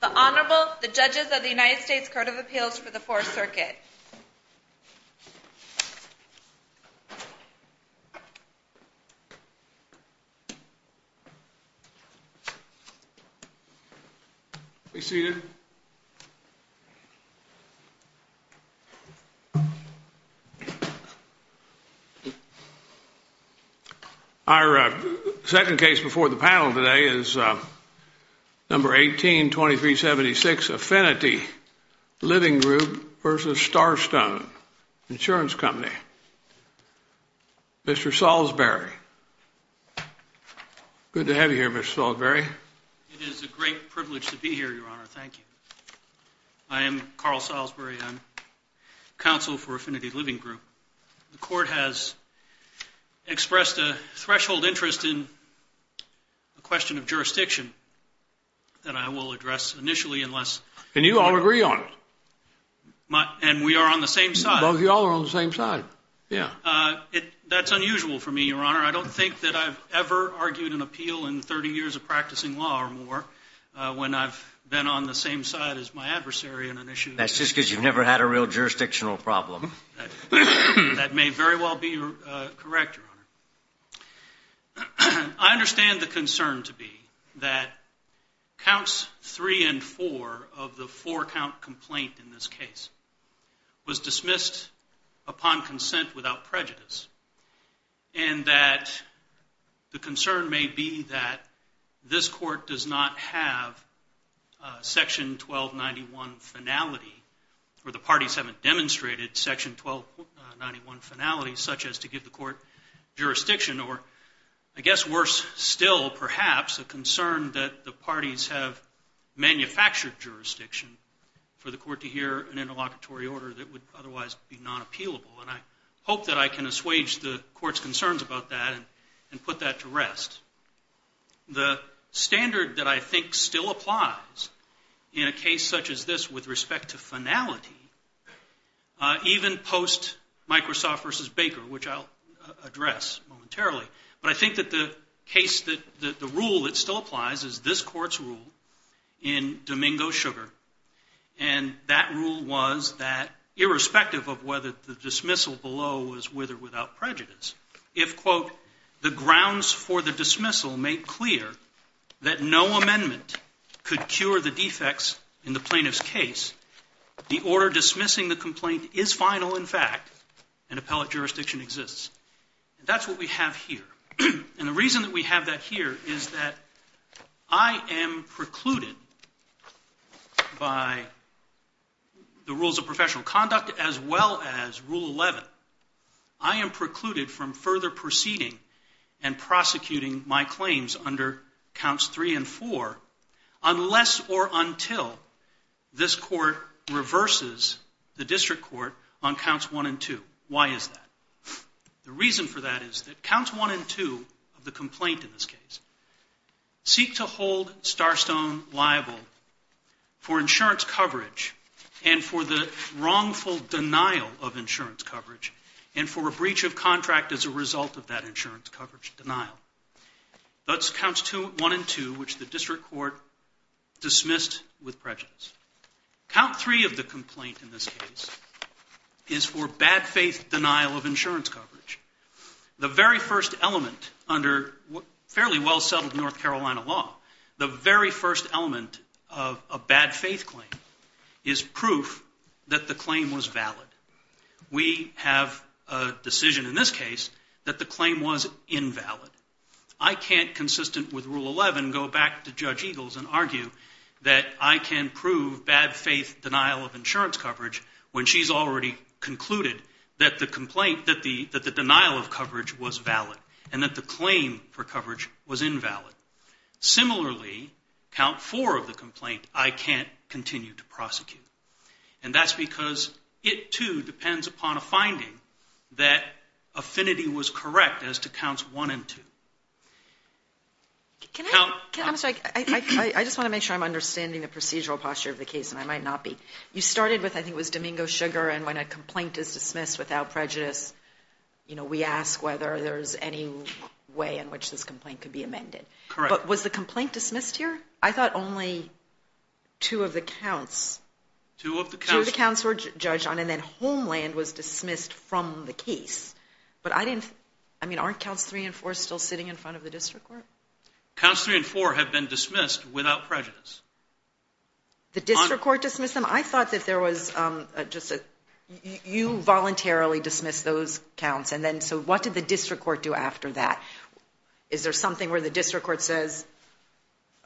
The Honorable, the Judges of the United States Court of Appeals for the Fourth Number 18-2376 Affinity Living Group v. Starstone Insurance Company. Mr. Salisbury. Good to have you here, Mr. Salisbury. It is a great privilege to be here, Your Honor. Thank you. I am Carl Salisbury. I'm counsel for Affinity Living Group. The Court has expressed a threshold interest in a question of jurisdiction that I will address initially unless... And you all agree on it. And we are on the same side. Both of you all are on the same side. Yeah. That's unusual for me, Your Honor. I don't think that I've ever argued an appeal in 30 years of practicing law or more when I've been on the same side as my adversary in an issue. That's just because you've never had a real jurisdictional problem. That may very well be correct, Your Honor. I understand the concern to be that Counts 3 and 4 of the four-count complaint in this case was dismissed upon consent without prejudice. And that the concern may be that this Court does not have Section 1291 finality or the parties haven't demonstrated Section 1291 finality such as to give the Court jurisdiction or, I guess, worse still perhaps, a concern that the parties have manufactured jurisdiction for the Court to hear an interlocutory order that would otherwise be non-appealable. And I hope that I can assuage the Court's concerns about that and put that to rest. The standard that I think still applies in a case such as this with respect to finality, even post-Microsoft v. Baker, which I'll address momentarily, but I think that the rule that still applies is this Court's rule in Domingo-Sugar. And that rule was that irrespective of whether the dismissal below was with or without prejudice, if, quote, the grounds for the dismissal made clear that no amendment could cure the defects in the plaintiff's case, the order dismissing the complaint is final in fact and appellate jurisdiction exists. And that's what we have here. And the reason that we have that here is that I am precluded by the rules of professional conduct as well as Rule 11. I am precluded from further proceeding and prosecuting my claims under Counts 3 and 4 unless or until this Court reverses the district court on Counts 1 and 2. Why is that? The reason for that is that Counts 1 and 2 of the complaint in this case seek to hold Starstone liable for insurance coverage and for the wrongful denial of insurance coverage and for a breach of contract as a result of that insurance coverage denial. That's Counts 1 and 2, which the district court dismissed with prejudice. Count 3 of the complaint in this case is for bad faith denial of insurance coverage. The very first element under fairly well settled North Carolina law, the very first element of a bad faith claim is proof that the claim was valid. We have a decision in this case that the claim was invalid. I can't, consistent with Rule 11, go back to Judge Eagles and argue that I can prove bad faith denial of insurance coverage when she's already concluded that the denial of coverage was valid and that the claim for coverage was invalid. Similarly, Count 4 of the complaint I can't continue to prosecute. And that's because it, too, depends upon a finding that affinity was correct as to Counts 1 and 2. I just want to make sure I'm understanding the procedural posture of the case, and I might not be. You started with, I think it was Domingo Sugar, and when a complaint is dismissed without prejudice, we ask whether there's any way in which this complaint could be amended. Correct. But was the complaint dismissed here? I thought only two of the counts. Two of the counts. Two of the counts were judged on, and then Homeland was dismissed from the case. But I didn't, I mean, aren't Counts 3 and 4 still sitting in front of the district court? Counts 3 and 4 have been dismissed without prejudice. The district court dismissed them? I thought that there was just a, you voluntarily dismissed those counts. And then, so what did the district court do after that? Is there something where the district court says,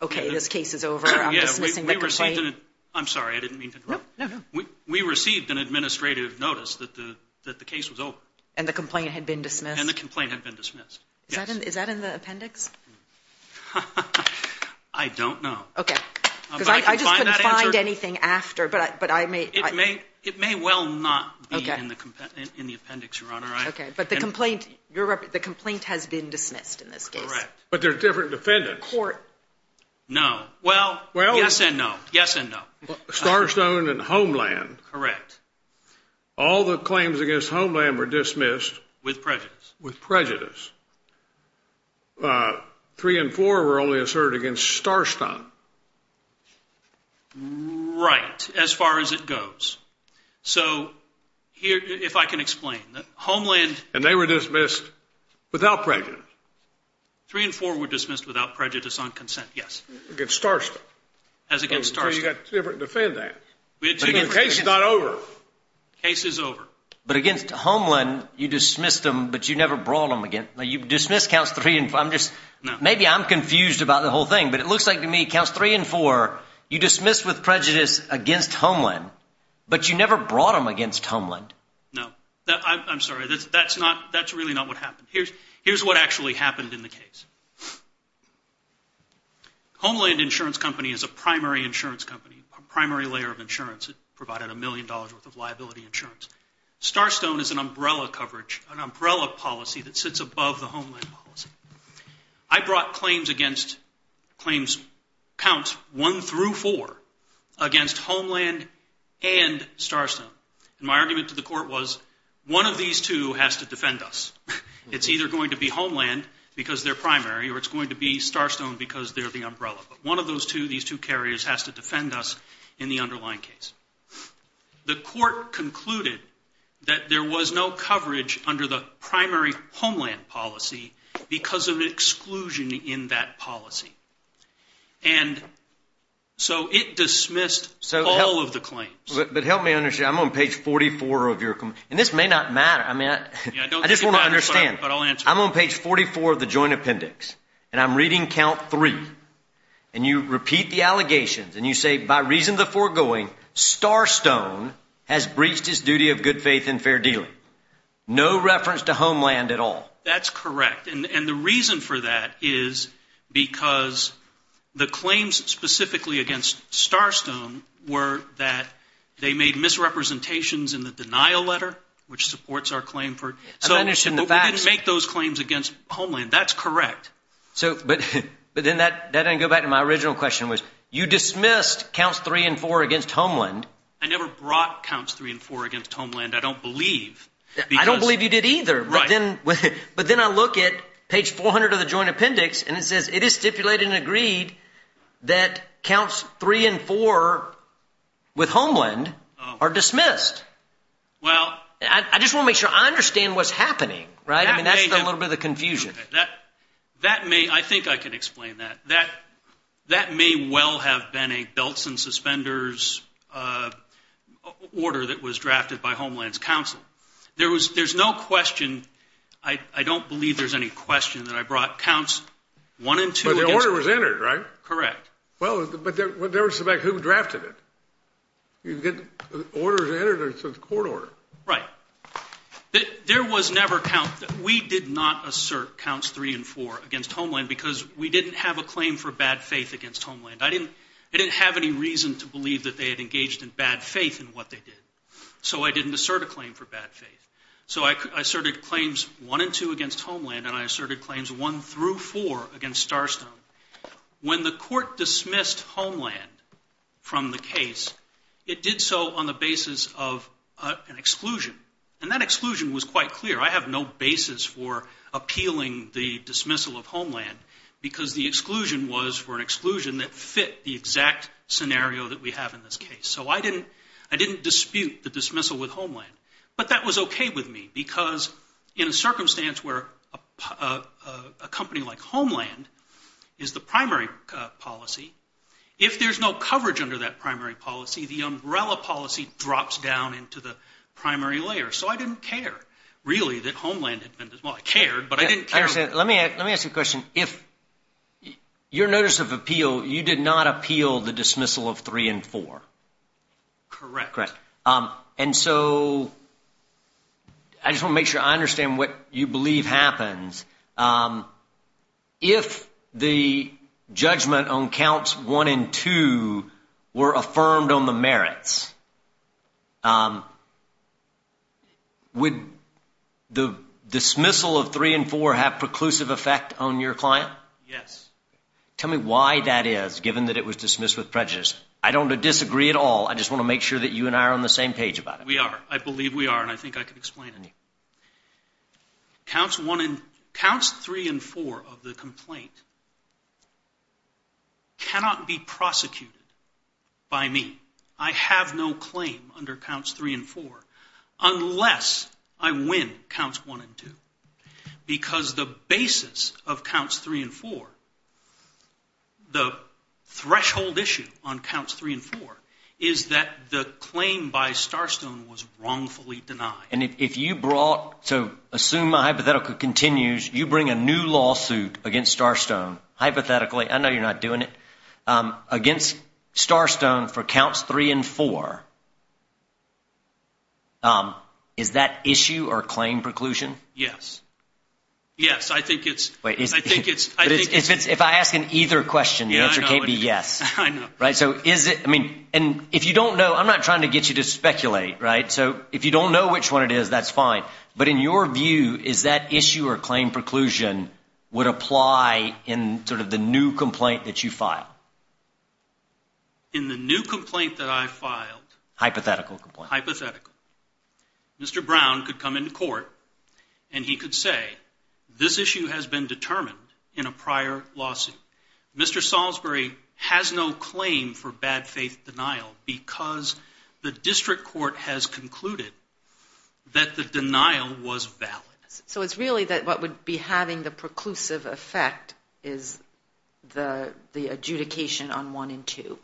okay, this case is over, I'm dismissing the complaint? I'm sorry, I didn't mean to interrupt. No, no, no. We received an administrative notice that the case was over. And the complaint had been dismissed? And the complaint had been dismissed, yes. Is that in the appendix? I don't know. Okay. Because I just couldn't find anything after, but I may. It may well not be in the appendix, Your Honor. Okay, but the complaint has been dismissed in this case. Correct. But there are different defendants. In court. No. Well, yes and no. Yes and no. Starstone and Homeland. Correct. All the claims against Homeland were dismissed? With prejudice. With prejudice. 3 and 4 were only asserted against Starstone. Right, as far as it goes. So, if I can explain. Homeland. And they were dismissed without prejudice? 3 and 4 were dismissed without prejudice on consent, yes. Against Starstone. As against Starstone. So you've got two different defendants. The case is not over. The case is over. But against Homeland, you dismissed them, but you never brought them again. You dismissed counts 3 and 4. Maybe I'm confused about the whole thing, but it looks like to me, But you never brought them against Homeland. No. I'm sorry. That's really not what happened. Here's what actually happened in the case. Homeland Insurance Company is a primary insurance company. A primary layer of insurance. It provided a million dollars worth of liability insurance. Starstone is an umbrella coverage, an umbrella policy that sits above the Homeland policy. I brought claims against, claims counts 1 through 4, against Homeland and Starstone. And my argument to the court was, one of these two has to defend us. It's either going to be Homeland because they're primary, or it's going to be Starstone because they're the umbrella. But one of those two, these two carriers, has to defend us in the underlying case. The court concluded that there was no coverage under the primary Homeland policy because of exclusion in that policy. And so it dismissed all of the claims. But help me understand. I'm on page 44 of your, and this may not matter. I just want to understand. I'm on page 44 of the joint appendix, and I'm reading count 3. And you repeat the allegations, and you say, by reason of the foregoing, Starstone has breached his duty of good faith and fair dealing. No reference to Homeland at all. That's correct. And the reason for that is because the claims specifically against Starstone were that they made misrepresentations in the denial letter, which supports our claim for. So we didn't make those claims against Homeland. That's correct. But then that doesn't go back to my original question, which you dismissed counts 3 and 4 against Homeland. I never brought counts 3 and 4 against Homeland. I don't believe. I don't believe you did either. Right. But then I look at page 400 of the joint appendix, and it says it is stipulated and agreed that counts 3 and 4 with Homeland are dismissed. Well. I just want to make sure I understand what's happening, right? I mean, that's a little bit of confusion. That may. I think I can explain that. That may well have been a belts and suspenders order that was drafted by Homeland's counsel. There's no question. I don't believe there's any question that I brought counts 1 and 2. But the order was entered, right? Correct. Well, but there was somebody who drafted it. The order was entered under the court order. Right. There was never counts. We did not assert counts 3 and 4 against Homeland because we didn't have a claim for bad faith against Homeland. I didn't have any reason to believe that they had engaged in bad faith in what they did. So I didn't assert a claim for bad faith. So I asserted claims 1 and 2 against Homeland, and I asserted claims 1 through 4 against Starstone. When the court dismissed Homeland from the case, it did so on the basis of an exclusion. And that exclusion was quite clear. I have no basis for appealing the dismissal of Homeland because the exclusion was for an exclusion that fit the exact scenario that we have in this case. So I didn't dispute the dismissal with Homeland. But that was okay with me because in a circumstance where a company like Homeland is the primary policy, if there's no coverage under that primary policy, the umbrella policy drops down into the primary layer. So I didn't care, really, that Homeland had been dismissed. Well, I cared, but I didn't care. Let me ask you a question. If your notice of appeal, you did not appeal the dismissal of 3 and 4. Correct. Correct. And so I just want to make sure I understand what you believe happens. If the judgment on counts 1 and 2 were affirmed on the merits, would the dismissal of 3 and 4 have preclusive effect on your client? Yes. Tell me why that is, given that it was dismissed with prejudice. I don't disagree at all. I just want to make sure that you and I are on the same page about it. We are. I believe we are, and I think I can explain it to you. Counts 3 and 4 of the complaint cannot be prosecuted by me. I have no claim under counts 3 and 4 unless I win counts 1 and 2. Because the basis of counts 3 and 4, the threshold issue on counts 3 and 4, is that the claim by Starstone was wrongfully denied. And if you brought, so assume my hypothetical continues, you bring a new lawsuit against Starstone, hypothetically, I know you're not doing it, against Starstone for counts 3 and 4, is that issue or claim preclusion? Yes. Yes. I think it's... If I ask an either question, the answer can't be yes. I know. Right? So is it, I mean, and if you don't know, I'm not trying to get you to speculate, right? So if you don't know which one it is, that's fine. But in your view, is that issue or claim preclusion would apply in sort of the new complaint that you filed? In the new complaint that I filed... Hypothetical complaint. Hypothetical. Mr. Brown could come into court and he could say, this issue has been determined in a prior lawsuit. Mr. Salisbury has no claim for bad faith denial because the district court has concluded that the denial was valid. So it's really that what would be having the preclusive effect is the adjudication on 1 and 2?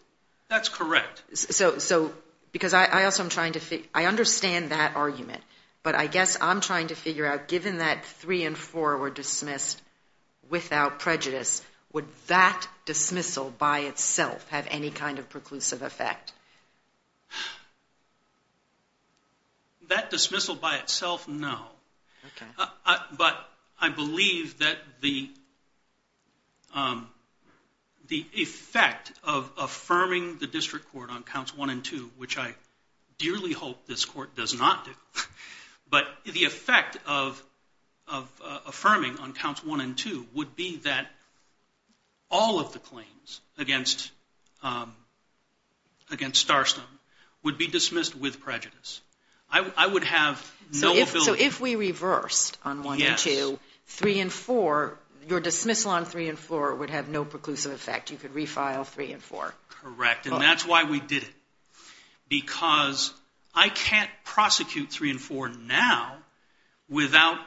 That's correct. So because I also am trying to figure... I understand that argument, but I guess I'm trying to figure out, given that 3 and 4 were dismissed without prejudice, would that dismissal by itself have any kind of preclusive effect? That dismissal by itself, no. Okay. But I believe that the effect of affirming the district court on counts 1 and 2, which I dearly hope this court does not do, but the effect of affirming on counts 1 and 2 would be that all of the claims against Starstone would be dismissed with prejudice. So if we reversed on 1 and 2, 3 and 4, your dismissal on 3 and 4 would have no preclusive effect. You could refile 3 and 4. Correct. And that's why we did it, because I can't prosecute 3 and 4 now without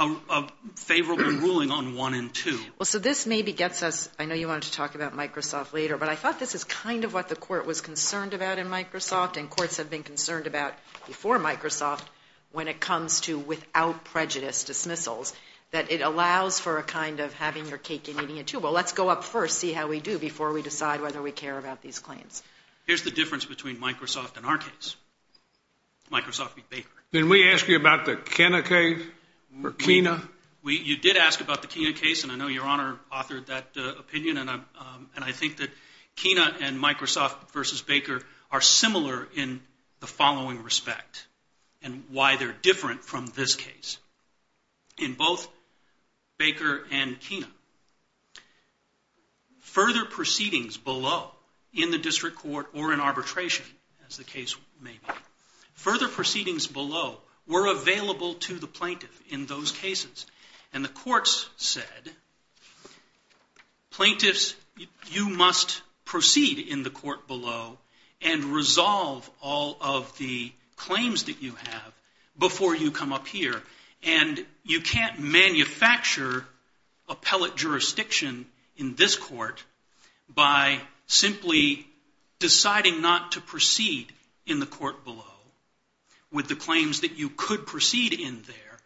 a favorable ruling on 1 and 2. So this maybe gets us... I know you wanted to talk about Microsoft later, but I thought this is kind of what the court was concerned about in Microsoft and courts have been concerned about before Microsoft when it comes to without prejudice dismissals, that it allows for a kind of having your cake and eating it, too. Well, let's go up first, see how we do, before we decide whether we care about these claims. Here's the difference between Microsoft and our case, Microsoft v. Baker. Didn't we ask you about the Kena case? You did ask about the Kena case, and I know Your Honor authored that opinion, and I think that Kena and Microsoft v. Baker are similar in the following respect and why they're different from this case. In both Baker and Kena, further proceedings below in the district court or in arbitration, as the case may be, further proceedings below were available to the plaintiff in those cases, and the courts said, plaintiffs, you must proceed in the court below and resolve all of the claims that you have before you come up here, and you can't manufacture appellate jurisdiction in this court by simply deciding not to proceed in the court below with the claims that you could proceed in there,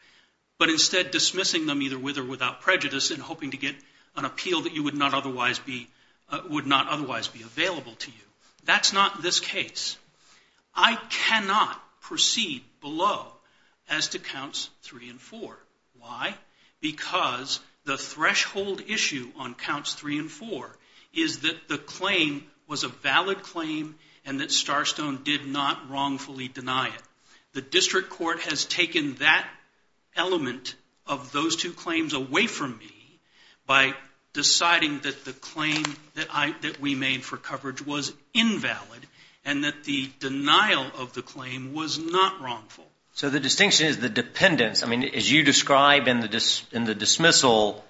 but instead dismissing them either with or without prejudice and hoping to get an appeal that would not otherwise be available to you. That's not this case. I cannot proceed below as to Counts 3 and 4. Why? Because the threshold issue on Counts 3 and 4 is that the claim was a valid claim and that Starstone did not wrongfully deny it. The district court has taken that element of those two claims away from me by deciding that the claim that we made for coverage was invalid and that the denial of the claim was not wrongful. So the distinction is the dependence. I mean, as you describe in the dismissal,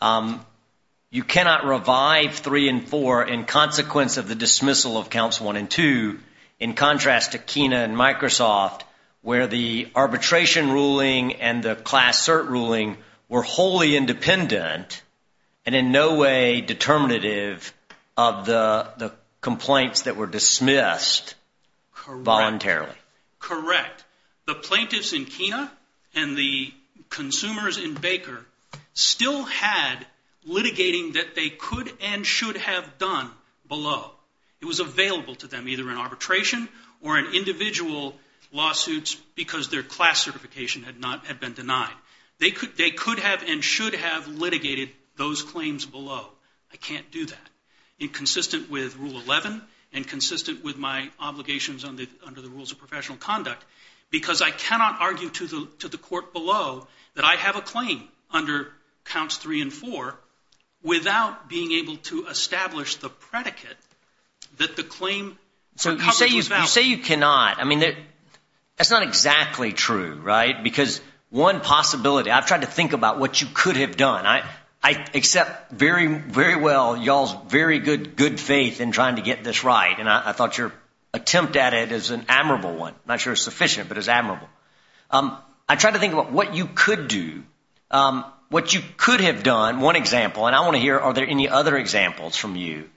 you cannot revive 3 and 4 in consequence of the dismissal of Counts 1 and 2. In contrast to Kena and Microsoft, where the arbitration ruling and the class cert ruling were wholly independent and in no way determinative of the complaints that were dismissed voluntarily. Correct. The plaintiffs in Kena and the consumers in Baker still had litigating that they could and should have done below. It was available to them either in arbitration or in individual lawsuits because their class certification had been denied. They could have and should have litigated those claims below. I can't do that, inconsistent with Rule 11 and consistent with my obligations under the Rules of Professional Conduct because I cannot argue to the court below that I have a claim under Counts 3 and 4 without being able to establish the predicate that the claim for coverage was valid. So you say you cannot. I mean, that's not exactly true, right? Because one possibility, I've tried to think about what you could have done. I accept very well y'all's very good faith in trying to get this right, and I thought your attempt at it is an admirable one. I'm not sure it's sufficient, but it's admirable. I tried to think about what you could do. What you could have done, one example, and I want to hear are there any other examples from you,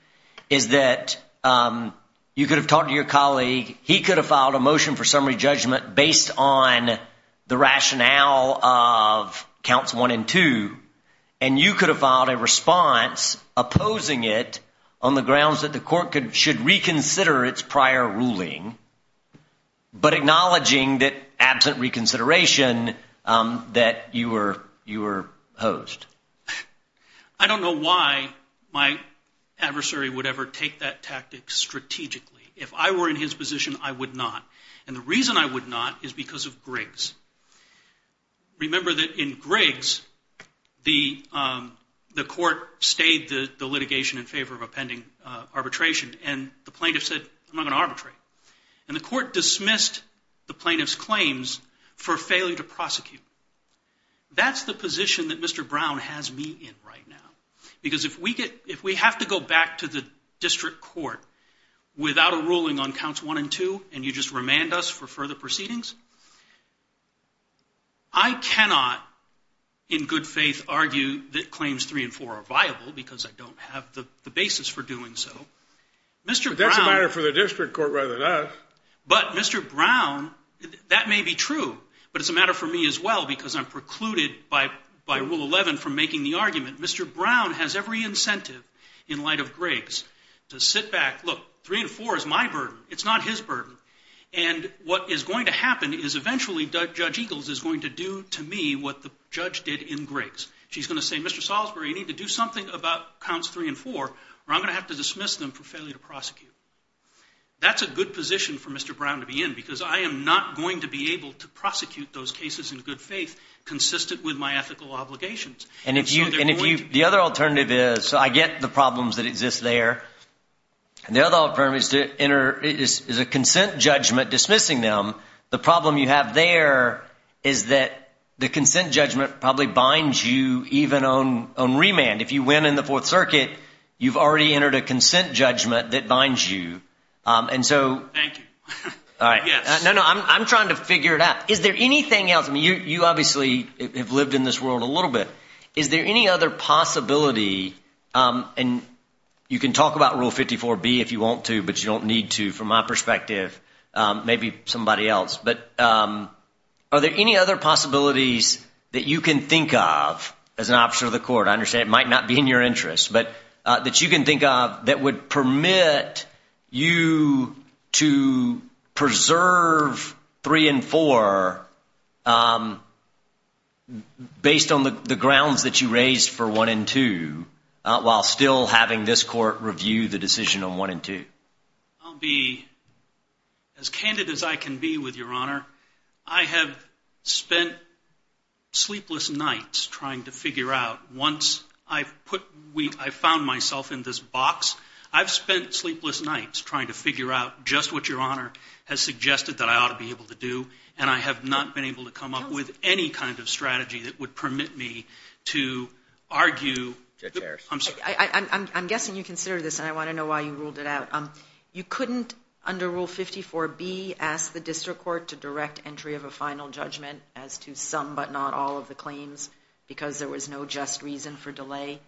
is that you could have talked to your colleague. He could have filed a motion for summary judgment based on the rationale of Counts 1 and 2, and you could have filed a response opposing it on the grounds that the court should reconsider its prior ruling, but acknowledging that absent reconsideration that you were opposed. I don't know why my adversary would ever take that tactic strategically. If I were in his position, I would not, and the reason I would not is because of Griggs. Remember that in Griggs, the court stayed the litigation in favor of a pending arbitration, and the plaintiff said, I'm not going to arbitrate, and the court dismissed the plaintiff's claims for failing to prosecute. That's the position that Mr. Brown has me in right now, because if we have to go back to the district court without a ruling on Counts 1 and 2, and you just remand us for further proceedings, I cannot in good faith argue that claims 3 and 4 are viable, because I don't have the basis for doing so. But that's a matter for the district court rather than us. But Mr. Brown, that may be true, but it's a matter for me as well, because I'm precluded by Rule 11 from making the argument. Mr. Brown has every incentive in light of Griggs to sit back, look, 3 and 4 is my burden, it's not his burden, and what is going to happen is eventually Judge Eagles is going to do to me what the judge did in Griggs. She's going to say, Mr. Salisbury, you need to do something about Counts 3 and 4, or I'm going to have to dismiss them for failure to prosecute. That's a good position for Mr. Brown to be in, because I am not going to be able to prosecute those cases in good faith, consistent with my ethical obligations. And the other alternative is, I get the problems that exist there, and the other alternative is a consent judgment dismissing them. The problem you have there is that the consent judgment probably binds you even on remand. If you win in the Fourth Circuit, you've already entered a consent judgment that binds you. Thank you. No, no, I'm trying to figure it out. Is there anything else? I mean, you obviously have lived in this world a little bit. Is there any other possibility, and you can talk about Rule 54B if you want to, but you don't need to from my perspective, maybe somebody else. But are there any other possibilities that you can think of as an officer of the court? I understand it might not be in your interest, but that you can think of that would permit you to preserve 3 and 4 based on the grounds that you raised for 1 and 2, while still having this court review the decision on 1 and 2. I'll be as candid as I can be with Your Honor. I have spent sleepless nights trying to figure out, once I found myself in this box, I've spent sleepless nights trying to figure out just what Your Honor has suggested that I ought to be able to do, and I have not been able to come up with any kind of strategy that would permit me to argue. I'm guessing you consider this, and I want to know why you ruled it out. You couldn't, under Rule 54B, ask the district court to direct entry of a final judgment as to some but not all of the claims because there was no just reason for delay?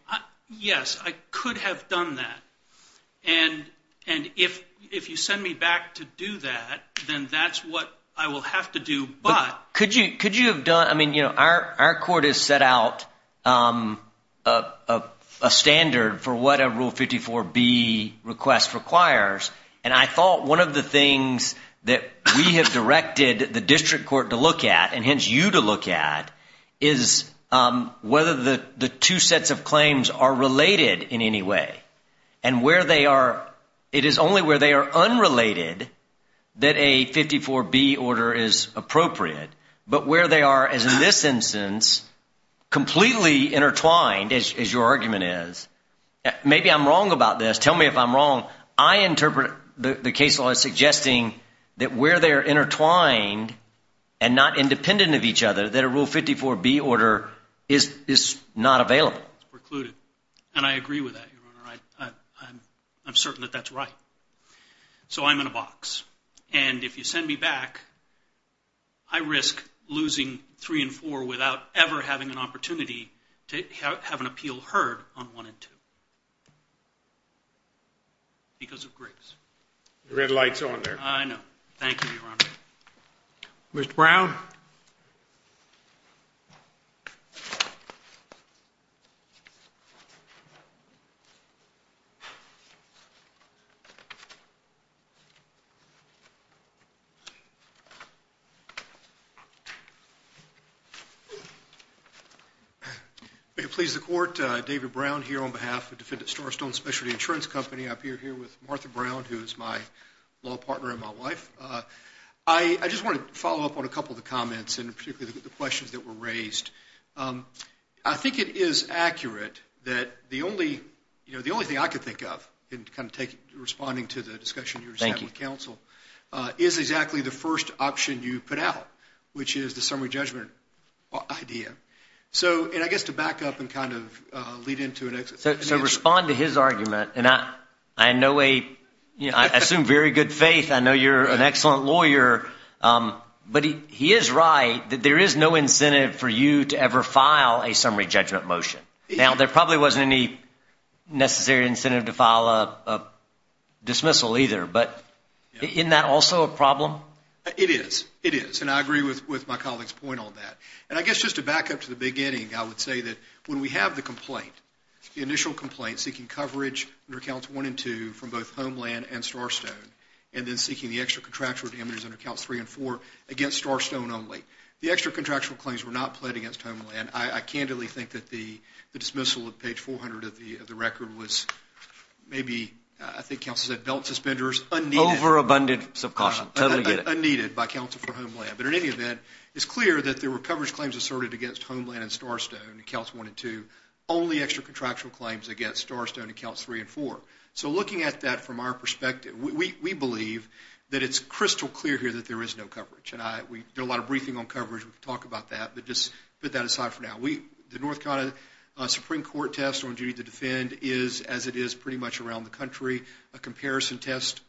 Yes, I could have done that. And if you send me back to do that, then that's what I will have to do. Our court has set out a standard for what a Rule 54B request requires, and I thought one of the things that we have directed the district court to look at, and hence you to look at, is whether the two sets of claims are related in any way. And it is only where they are unrelated that a 54B order is appropriate, but where they are, as in this instance, completely intertwined, as your argument is. Maybe I'm wrong about this. Tell me if I'm wrong. I interpret the case law as suggesting that where they are intertwined and not independent of each other, that a Rule 54B order is not available. It's precluded, and I agree with that, Your Honor. I'm certain that that's right. So I'm in a box. And if you send me back, I risk losing 3 and 4 without ever having an opportunity to have an appeal heard on 1 and 2. Because of grace. The red light's on there. I know. Thank you, Your Honor. Mr. Brown? Thank you. May it please the Court, David Brown here on behalf of Defendant Starstone Specialty Insurance Company. I appear here with Martha Brown, who is my law partner and my wife. I just want to follow up on a couple of the comments, and particularly the questions that were raised. I think it is accurate that the only thing I could think of in kind of responding to the discussion you were having with counsel is exactly the first option you put out, which is the summary judgment idea. And I guess to back up and kind of lead into it. So respond to his argument, and I assume very good faith. I know you're an excellent lawyer. But he is right that there is no incentive for you to ever file a summary judgment motion. Now, there probably wasn't any necessary incentive to file a dismissal either. But isn't that also a problem? It is. It is. And I agree with my colleague's point on that. And I guess just to back up to the beginning, I would say that when we have the complaint, the initial complaint seeking coverage under accounts 1 and 2 from both Homeland and Starstone, and then seeking the extra contractual damages under accounts 3 and 4 against Starstone only, the extra contractual claims were not pled against Homeland. I candidly think that the dismissal of page 400 of the record was maybe, I think counsel said, belt suspenders unneeded by counsel for Homeland. But in any event, it's clear that there were coverage claims asserted against Homeland and Starstone, accounts 1 and 2, only extra contractual claims against Starstone and accounts 3 and 4. So looking at that from our perspective, we believe that it's crystal clear here that there is no coverage. And we did a lot of briefing on coverage. We can talk about that. But just put that aside for now. The North Carolina Supreme Court test on duty to defend is, as it is pretty much around the country, a comparison test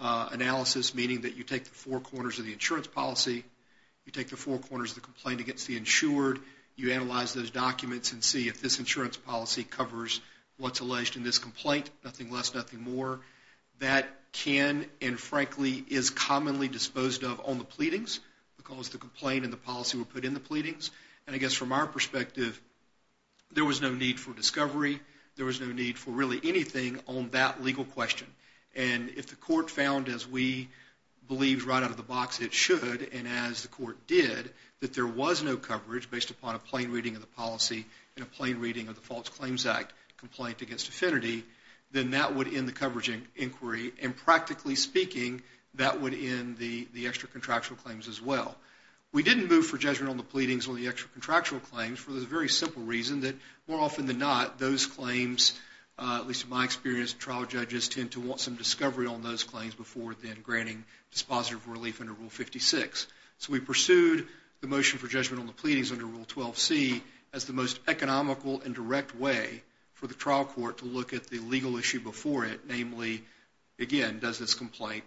analysis, meaning that you take the four corners of the insurance policy, you take the four corners of the complaint against the insured, you analyze those documents and see if this insurance policy covers what's alleged in this complaint, nothing less, nothing more. That can and, frankly, is commonly disposed of on the pleadings because the complaint and the policy were put in the pleadings. And I guess from our perspective, there was no need for discovery. There was no need for really anything on that legal question. And if the court found, as we believe right out of the box it should, and as the court did, that there was no coverage based upon a plain reading of the policy and a plain reading of the False Claims Act complaint against affinity, then that would end the coverage inquiry. And practically speaking, that would end the extra contractual claims as well. We didn't move for judgment on the pleadings or the extra contractual claims for the very simple reason that more often than not, those claims, at least in my experience, trial judges tend to want some discovery on those claims before then granting dispositive relief under Rule 56. So we pursued the motion for judgment on the pleadings under Rule 12C as the most economical and direct way for the trial court to look at the legal issue before it, namely, again, does this complaint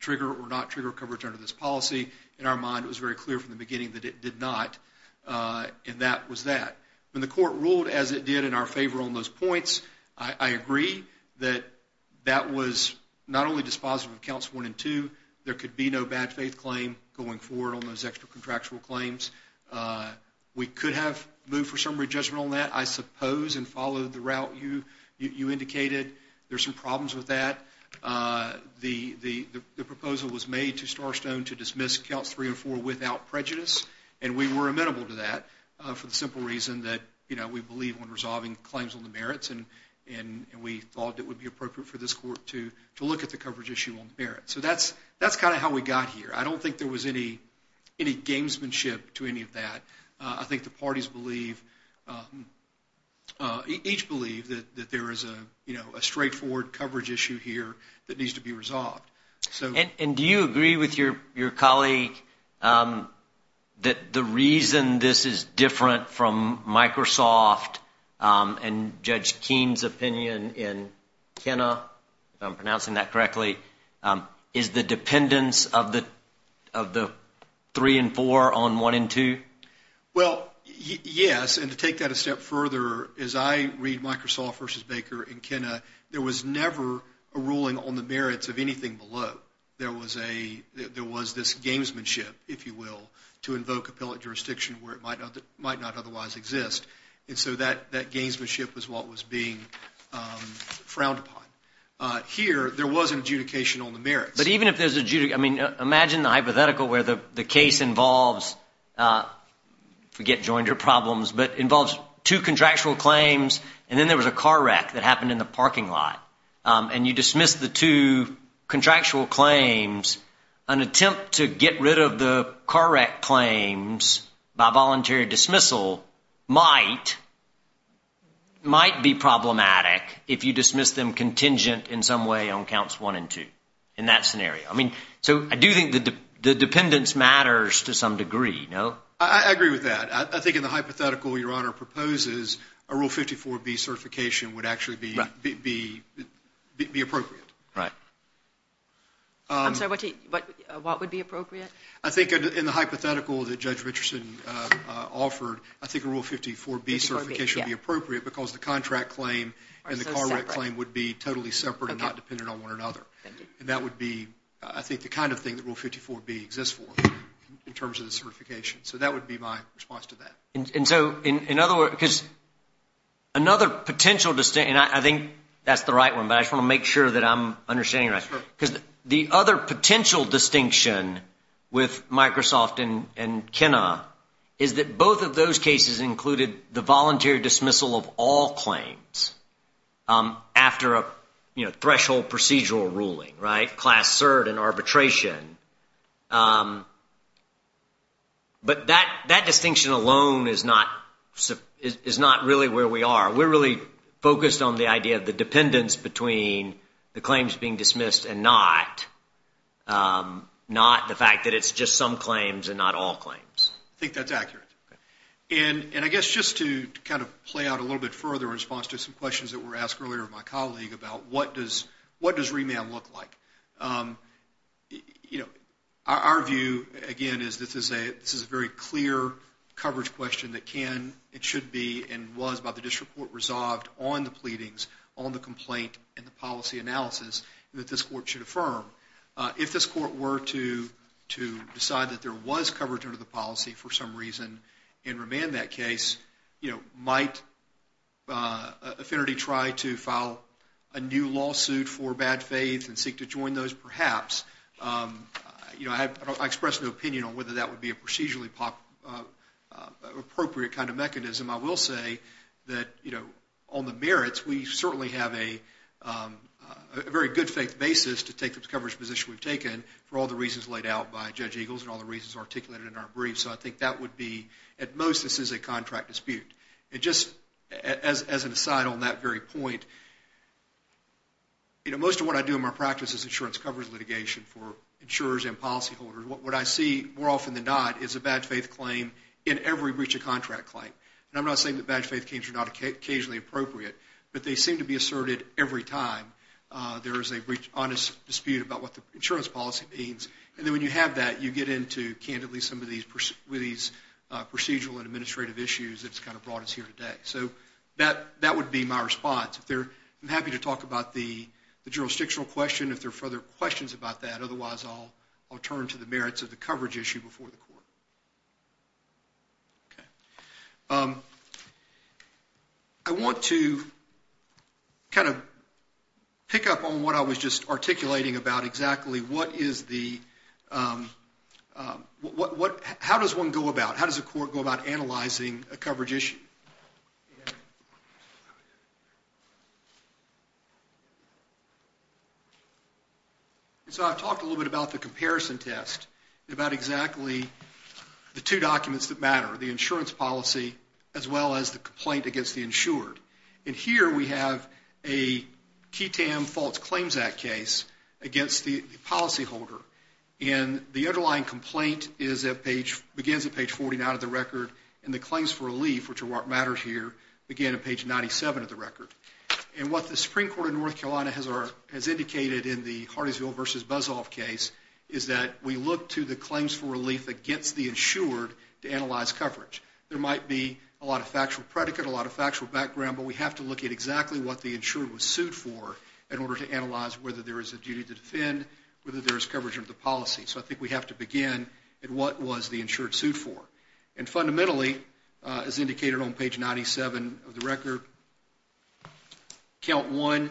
trigger or not trigger coverage under this policy? In our mind, it was very clear from the beginning that it did not, and that was that. When the court ruled as it did in our favor on those points, I agree that that was not only dispositive of Counts 1 and 2, there could be no bad faith claim going forward on those extra contractual claims. We could have moved for summary judgment on that, I suppose, and followed the route you indicated. There are some problems with that. The proposal was made to Starstone to dismiss Counts 3 and 4 without prejudice, and we were amenable to that for the simple reason that we believe in resolving claims on the merits, and we thought it would be appropriate for this court to look at the coverage issue on the merits. So that's kind of how we got here. I don't think there was any gamesmanship to any of that. I think the parties each believe that there is a straightforward coverage issue here that needs to be resolved. And do you agree with your colleague that the reason this is different from Microsoft and Judge Keene's opinion in Kenna, if I'm pronouncing that correctly, is the dependence of the 3 and 4 on 1 and 2? Well, yes, and to take that a step further, as I read Microsoft v. Baker in Kenna, there was never a ruling on the merits of anything below. There was this gamesmanship, if you will, to invoke appellate jurisdiction where it might not otherwise exist. And so that gamesmanship was what was being frowned upon. Here, there was an adjudication on the merits. But even if there's an adjudication, I mean, imagine the hypothetical where the case involves, forget joinder problems, but involves two contractual claims, and then there was a car wreck that happened in the parking lot, and you dismiss the two contractual claims, an attempt to get rid of the car wreck claims by voluntary dismissal might be problematic if you dismiss them contingent in some way on counts 1 and 2 in that scenario. I mean, so I do think the dependence matters to some degree, no? I agree with that. I think in the hypothetical Your Honor proposes, a Rule 54B certification would actually be appropriate. Right. I'm sorry, what would be appropriate? I think in the hypothetical that Judge Richardson offered, I think a Rule 54B certification would be appropriate because the contract claim and the car wreck claim would be totally separate and not dependent on one another. And that would be, I think, the kind of thing that Rule 54B exists for in terms of the certification. So that would be my response to that. And so, in other words, because another potential distinction, and I think that's the right one, but I just want to make sure that I'm understanding it right, because the other potential distinction with Microsoft and Kenna is that both of those cases included the voluntary dismissal of all claims after a, you know, but that distinction alone is not really where we are. We're really focused on the idea of the dependence between the claims being dismissed and not, not the fact that it's just some claims and not all claims. I think that's accurate. And I guess just to kind of play out a little bit further in response to some questions that were asked earlier by my colleague about what does remand look like. You know, our view, again, is this is a very clear coverage question that can, it should be, and was by the district court resolved on the pleadings, on the complaint, and the policy analysis that this court should affirm. If this court were to decide that there was coverage under the policy for some reason and remand that case, you know, might affinity try to file a new lawsuit for bad faith and seek to join those perhaps, you know, I express no opinion on whether that would be a procedurally appropriate kind of mechanism. I will say that, you know, on the merits, we certainly have a very good faith basis to take the coverage position we've taken for all the reasons laid out by Judge Eagles and all the reasons articulated in our briefs. And so I think that would be, at most, this is a contract dispute. And just as an aside on that very point, you know, most of what I do in my practice is insurance coverage litigation for insurers and policyholders. What I see more often than not is a bad faith claim in every breach of contract claim. And I'm not saying that bad faith claims are not occasionally appropriate, but they seem to be asserted every time there is a breach, honest dispute about what the insurance policy means. And then when you have that, you get into, candidly, some of these procedural and administrative issues that's kind of brought us here today. So that would be my response. I'm happy to talk about the jurisdictional question if there are further questions about that. Otherwise, I'll turn to the merits of the coverage issue before the court. Okay. I want to kind of pick up on what I was just articulating about exactly. What is the, what, how does one go about, how does a court go about analyzing a coverage issue? So I've talked a little bit about the comparison test, about exactly the two documents that matter, the insurance policy, as well as the complaint against the insured. And here we have a QTAM False Claims Act case against the policyholder. And the underlying complaint is at page, begins at page 49 of the record, and the claims for relief, which are what matters here, begin at page 97 of the record. And what the Supreme Court of North Carolina has indicated in the Hardingsville v. Buzsoff case is that we look to the claims for relief against the insured to analyze coverage. There might be a lot of factual predicate, a lot of factual background, but we have to look at exactly what the insured was sued for in order to analyze whether there is a duty to defend, whether there is coverage under the policy. So I think we have to begin at what was the insured sued for. And fundamentally, as indicated on page 97 of the record, count one,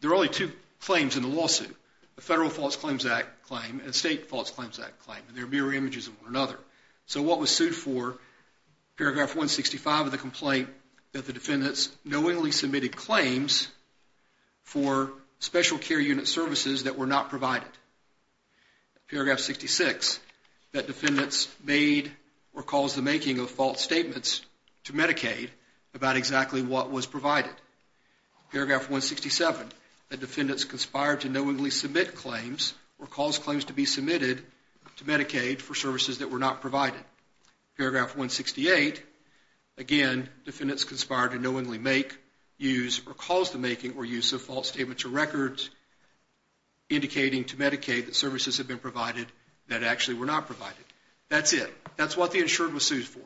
there are only two claims in the lawsuit, a Federal False Claims Act claim and a State False Claims Act claim, and they're mirror images of one another. So what was sued for, paragraph 165 of the complaint, that the defendants knowingly submitted claims for special care unit services that were not provided. Paragraph 66, that defendants made or caused the making of false statements to Medicaid about exactly what was provided. Paragraph 167, that defendants conspired to knowingly submit claims or caused claims to be submitted to Medicaid for services that were not provided. Paragraph 168, again, defendants conspired to knowingly make, use, or cause the making or use of false statements or records indicating to Medicaid that services had been provided that actually were not provided. That's it. That's what the insured was sued for.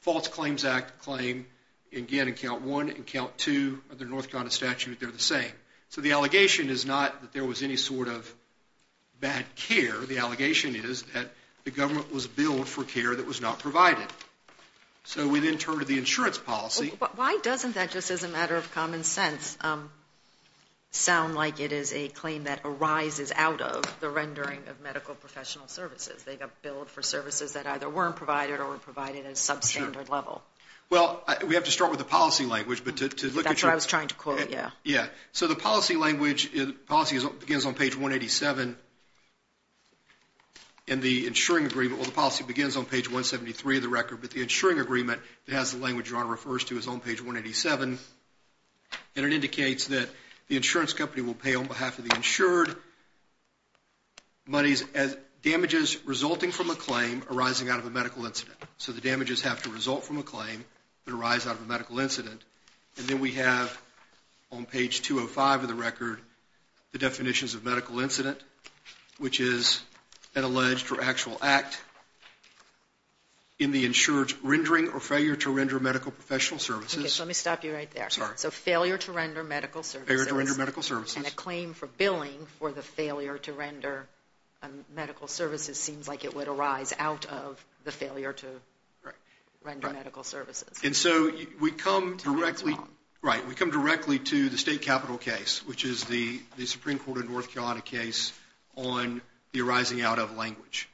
False Claims Act claim, again, in count one and count two of the North Carolina statute, they're the same. So the allegation is not that there was any sort of bad care. The allegation is that the government was billed for care that was not provided. So we then turn to the insurance policy. Why doesn't that, just as a matter of common sense, sound like it is a claim that arises out of the rendering of medical professional services? They got billed for services that either weren't provided or were provided at a substandard level. Well, we have to start with the policy language. That's what I was trying to quote, yeah. Yeah. So the policy begins on page 187 in the insuring agreement. Well, the policy begins on page 173 of the record, but the insuring agreement that has the language John refers to is on page 187, and it indicates that the insurance company will pay on behalf of the insured damages resulting from a claim arising out of a medical incident. So the damages have to result from a claim that arise out of a medical incident. And then we have on page 205 of the record the definitions of medical incident, which is an alleged or actual act in the insured rendering or failure to render medical professional services. Okay. So let me stop you right there. So failure to render medical services. Failure to render medical services. And a claim for billing for the failure to render medical services seems like it would arise out of the failure to render medical services. And so we come directly to the state capital case, which is the Supreme Court of North Carolina case on the arising out of language.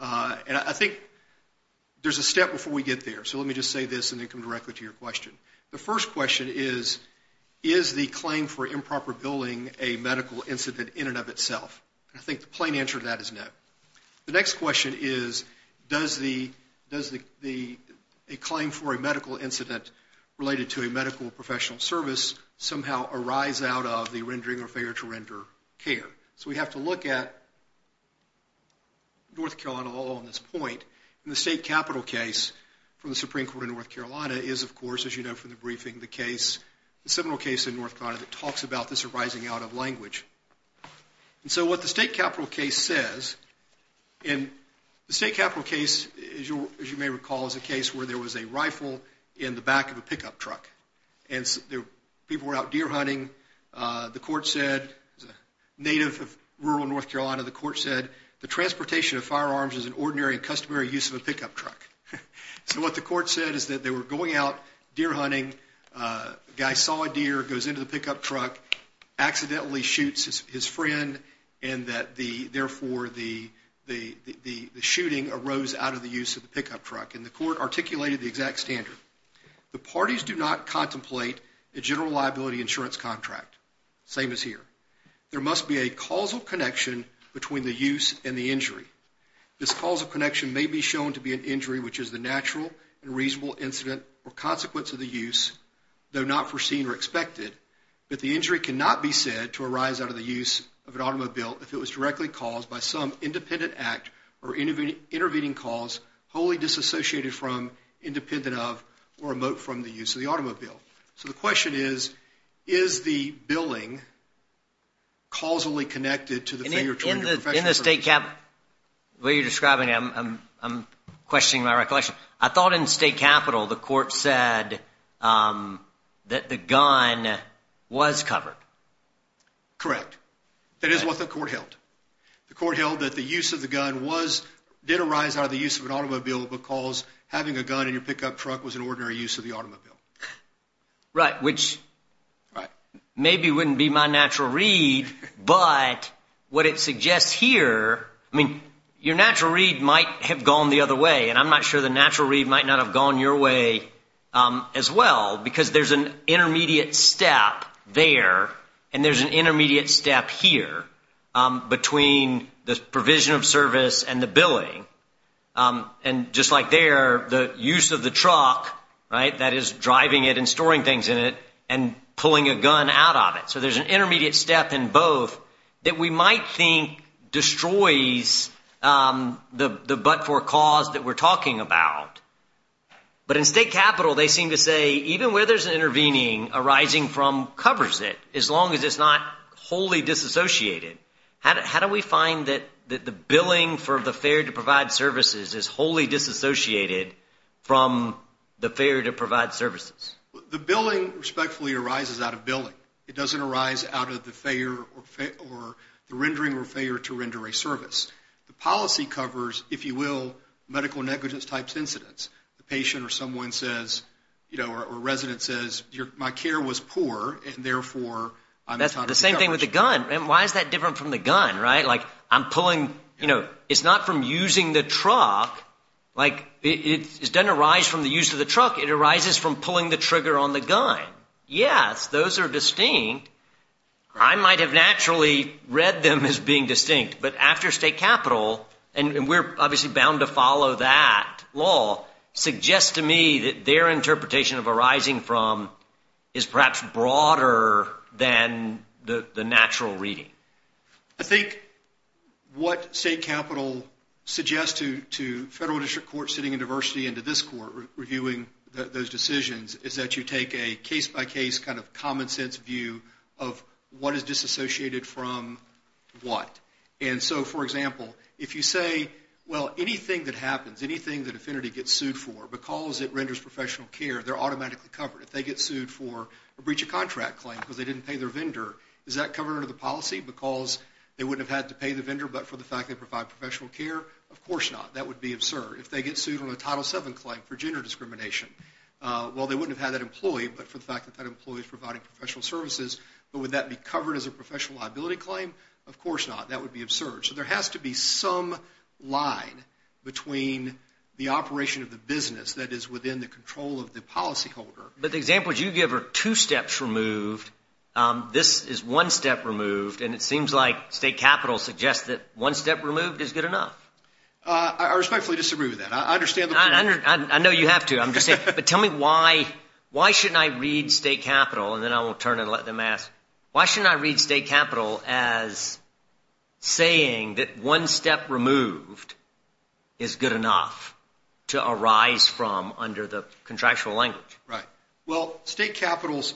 And I think there's a step before we get there, so let me just say this and then come directly to your question. The first question is, is the claim for improper billing a medical incident in and of itself? And I think the plain answer to that is no. The next question is, does a claim for a medical incident related to a medical professional service somehow arise out of the rendering or failure to render care? So we have to look at North Carolina all on this point. And the state capital case from the Supreme Court of North Carolina is, of course, as you know from the briefing, the case, the seminal case in North Carolina that talks about this arising out of language. And so what the state capital case says, and the state capital case, as you may recall, is a case where there was a rifle in the back of a pickup truck. And people were out deer hunting. The court said, native of rural North Carolina, the court said the transportation of firearms is an ordinary and customary use of a pickup truck. So what the court said is that they were going out deer hunting. A guy saw a deer, goes into the pickup truck, accidentally shoots his friend, and that therefore the shooting arose out of the use of the pickup truck. And the court articulated the exact standard. The parties do not contemplate a general liability insurance contract. Same as here. There must be a causal connection between the use and the injury. This causal connection may be shown to be an injury, which is the natural and reasonable incident or consequence of the use, though not foreseen or expected, that the injury cannot be said to arise out of the use of an automobile if it was directly caused by some independent act or intervening cause wholly disassociated from, independent of, or remote from the use of the automobile. So the question is, is the billing causally connected to the failure to join your profession? In the state cap, the way you're describing it, I'm questioning my recollection. I thought in state capital the court said that the gun was covered. Correct. That is what the court held. The court held that the use of the gun did arise out of the use of an automobile because having a gun in your pickup truck was an ordinary use of the automobile. Right, which maybe wouldn't be my natural read, but what it suggests here, I mean, your natural read might have gone the other way, and I'm not sure the natural read might not have gone your way as well because there's an intermediate step there and there's an intermediate step here. Between the provision of service and the billing, and just like there, the use of the truck, right, that is driving it and storing things in it, and pulling a gun out of it. So there's an intermediate step in both that we might think destroys the but-for cause that we're talking about. But in state capital they seem to say even where there's an intervening arising from covers it as long as it's not wholly disassociated. How do we find that the billing for the failure to provide services is wholly disassociated from the failure to provide services? The billing respectfully arises out of billing. It doesn't arise out of the rendering or failure to render a service. The policy covers, if you will, medical negligence type incidents. The patient or someone says, you know, or a resident says, my care was poor and therefore I'm entitled to coverage. That's the same thing with the gun. Why is that different from the gun, right? Like I'm pulling, you know, it's not from using the truck. Like it doesn't arise from the use of the truck. It arises from pulling the trigger on the gun. Yes, those are distinct. I might have naturally read them as being distinct. But after state capital, and we're obviously bound to follow that law, suggests to me that their interpretation of arising from is perhaps broader than the natural reading. I think what state capital suggests to federal district courts sitting in diversity and to this court reviewing those decisions is that you take a case-by-case kind of common sense view of what is disassociated from what. And so, for example, if you say, well, anything that happens, anything that Affinity gets sued for because it renders professional care, they're automatically covered. If they get sued for a breach of contract claim because they didn't pay their vendor, is that covered under the policy because they wouldn't have had to pay the vendor but for the fact they provide professional care? Of course not. That would be absurd. If they get sued on a Title VII claim for gender discrimination, well, they wouldn't have had that employee but for the fact that that employee is providing professional services. But would that be covered as a professional liability claim? Of course not. That would be absurd. So there has to be some line between the operation of the business that is within the control of the policyholder. But the example you give are two steps removed. This is one step removed. And it seems like state capital suggests that one step removed is good enough. I respectfully disagree with that. I understand the point. I know you have to. I'm just saying, but tell me why shouldn't I read state capital, and then I will turn and let them ask, why shouldn't I read state capital as saying that one step removed is good enough to arise from under the contractual language? Right. Well, state capitals,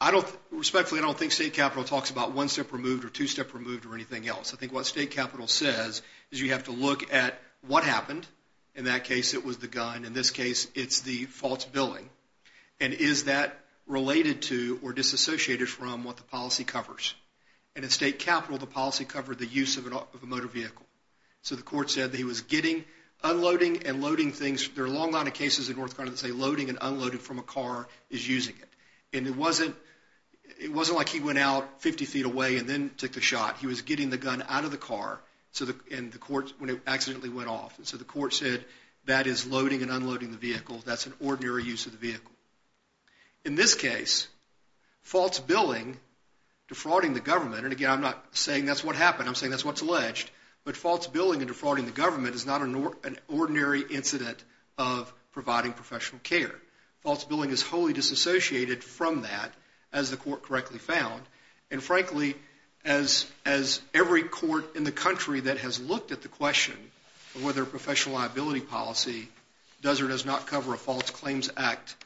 I don't, respectfully, I don't think state capital talks about one step removed or two step removed or anything else. I think what state capital says is you have to look at what happened. In that case, it was the gun. In this case, it's the false billing. And is that related to or disassociated from what the policy covers? And in state capital, the policy covered the use of a motor vehicle. So the court said that he was getting, unloading, and loading things. There are a long line of cases in North Carolina that say loading and unloading from a car is using it. And it wasn't like he went out 50 feet away and then took the shot. He was getting the gun out of the car when it accidentally went off. And so the court said that is loading and unloading the vehicle. That's an ordinary use of the vehicle. In this case, false billing, defrauding the government, and, again, I'm not saying that's what happened. I'm saying that's what's alleged. But false billing and defrauding the government is not an ordinary incident of providing professional care. False billing is wholly disassociated from that, as the court correctly found. And, frankly, as every court in the country that has looked at the question of whether a professional liability policy does or does not cover a False Claims Act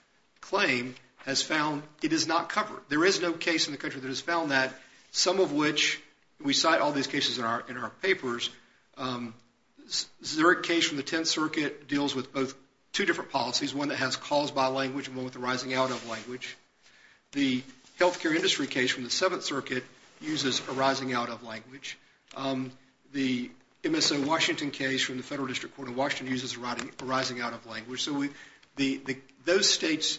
claim has found it is not covered. There is no case in the country that has found that, some of which we cite all these cases in our papers. The Zurich case from the Tenth Circuit deals with both two different policies, one that has calls by language and one with the rising out of language. The health care industry case from the Seventh Circuit uses a rising out of language. The MSO Washington case from the Federal District Court of Washington uses a rising out of language. So those states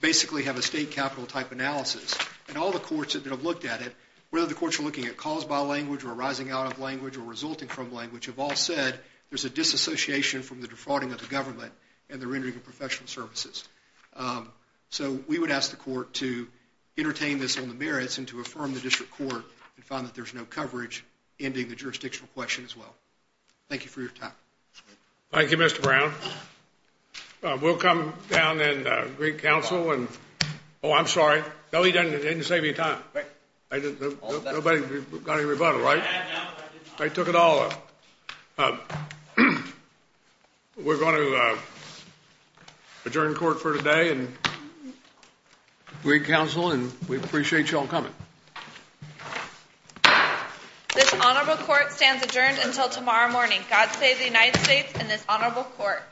basically have a state capital type analysis, and all the courts that have looked at it, whether the courts are looking at calls by language or a rising out of language or resulting from language, have all said there's a disassociation from the defrauding of the government and the rendering of professional services. So we would ask the court to entertain this on the merits and to affirm the district court and find that there's no coverage, ending the jurisdictional question as well. Thank you for your time. Thank you, Mr. Brown. We'll come down and greet counsel. Oh, I'm sorry. No, he didn't save me time. Nobody got any rebuttal, right? I took it all. We're going to adjourn court for today and greet counsel, and we appreciate you all coming. This honorable court stands adjourned until tomorrow morning. God save the United States and this honorable court.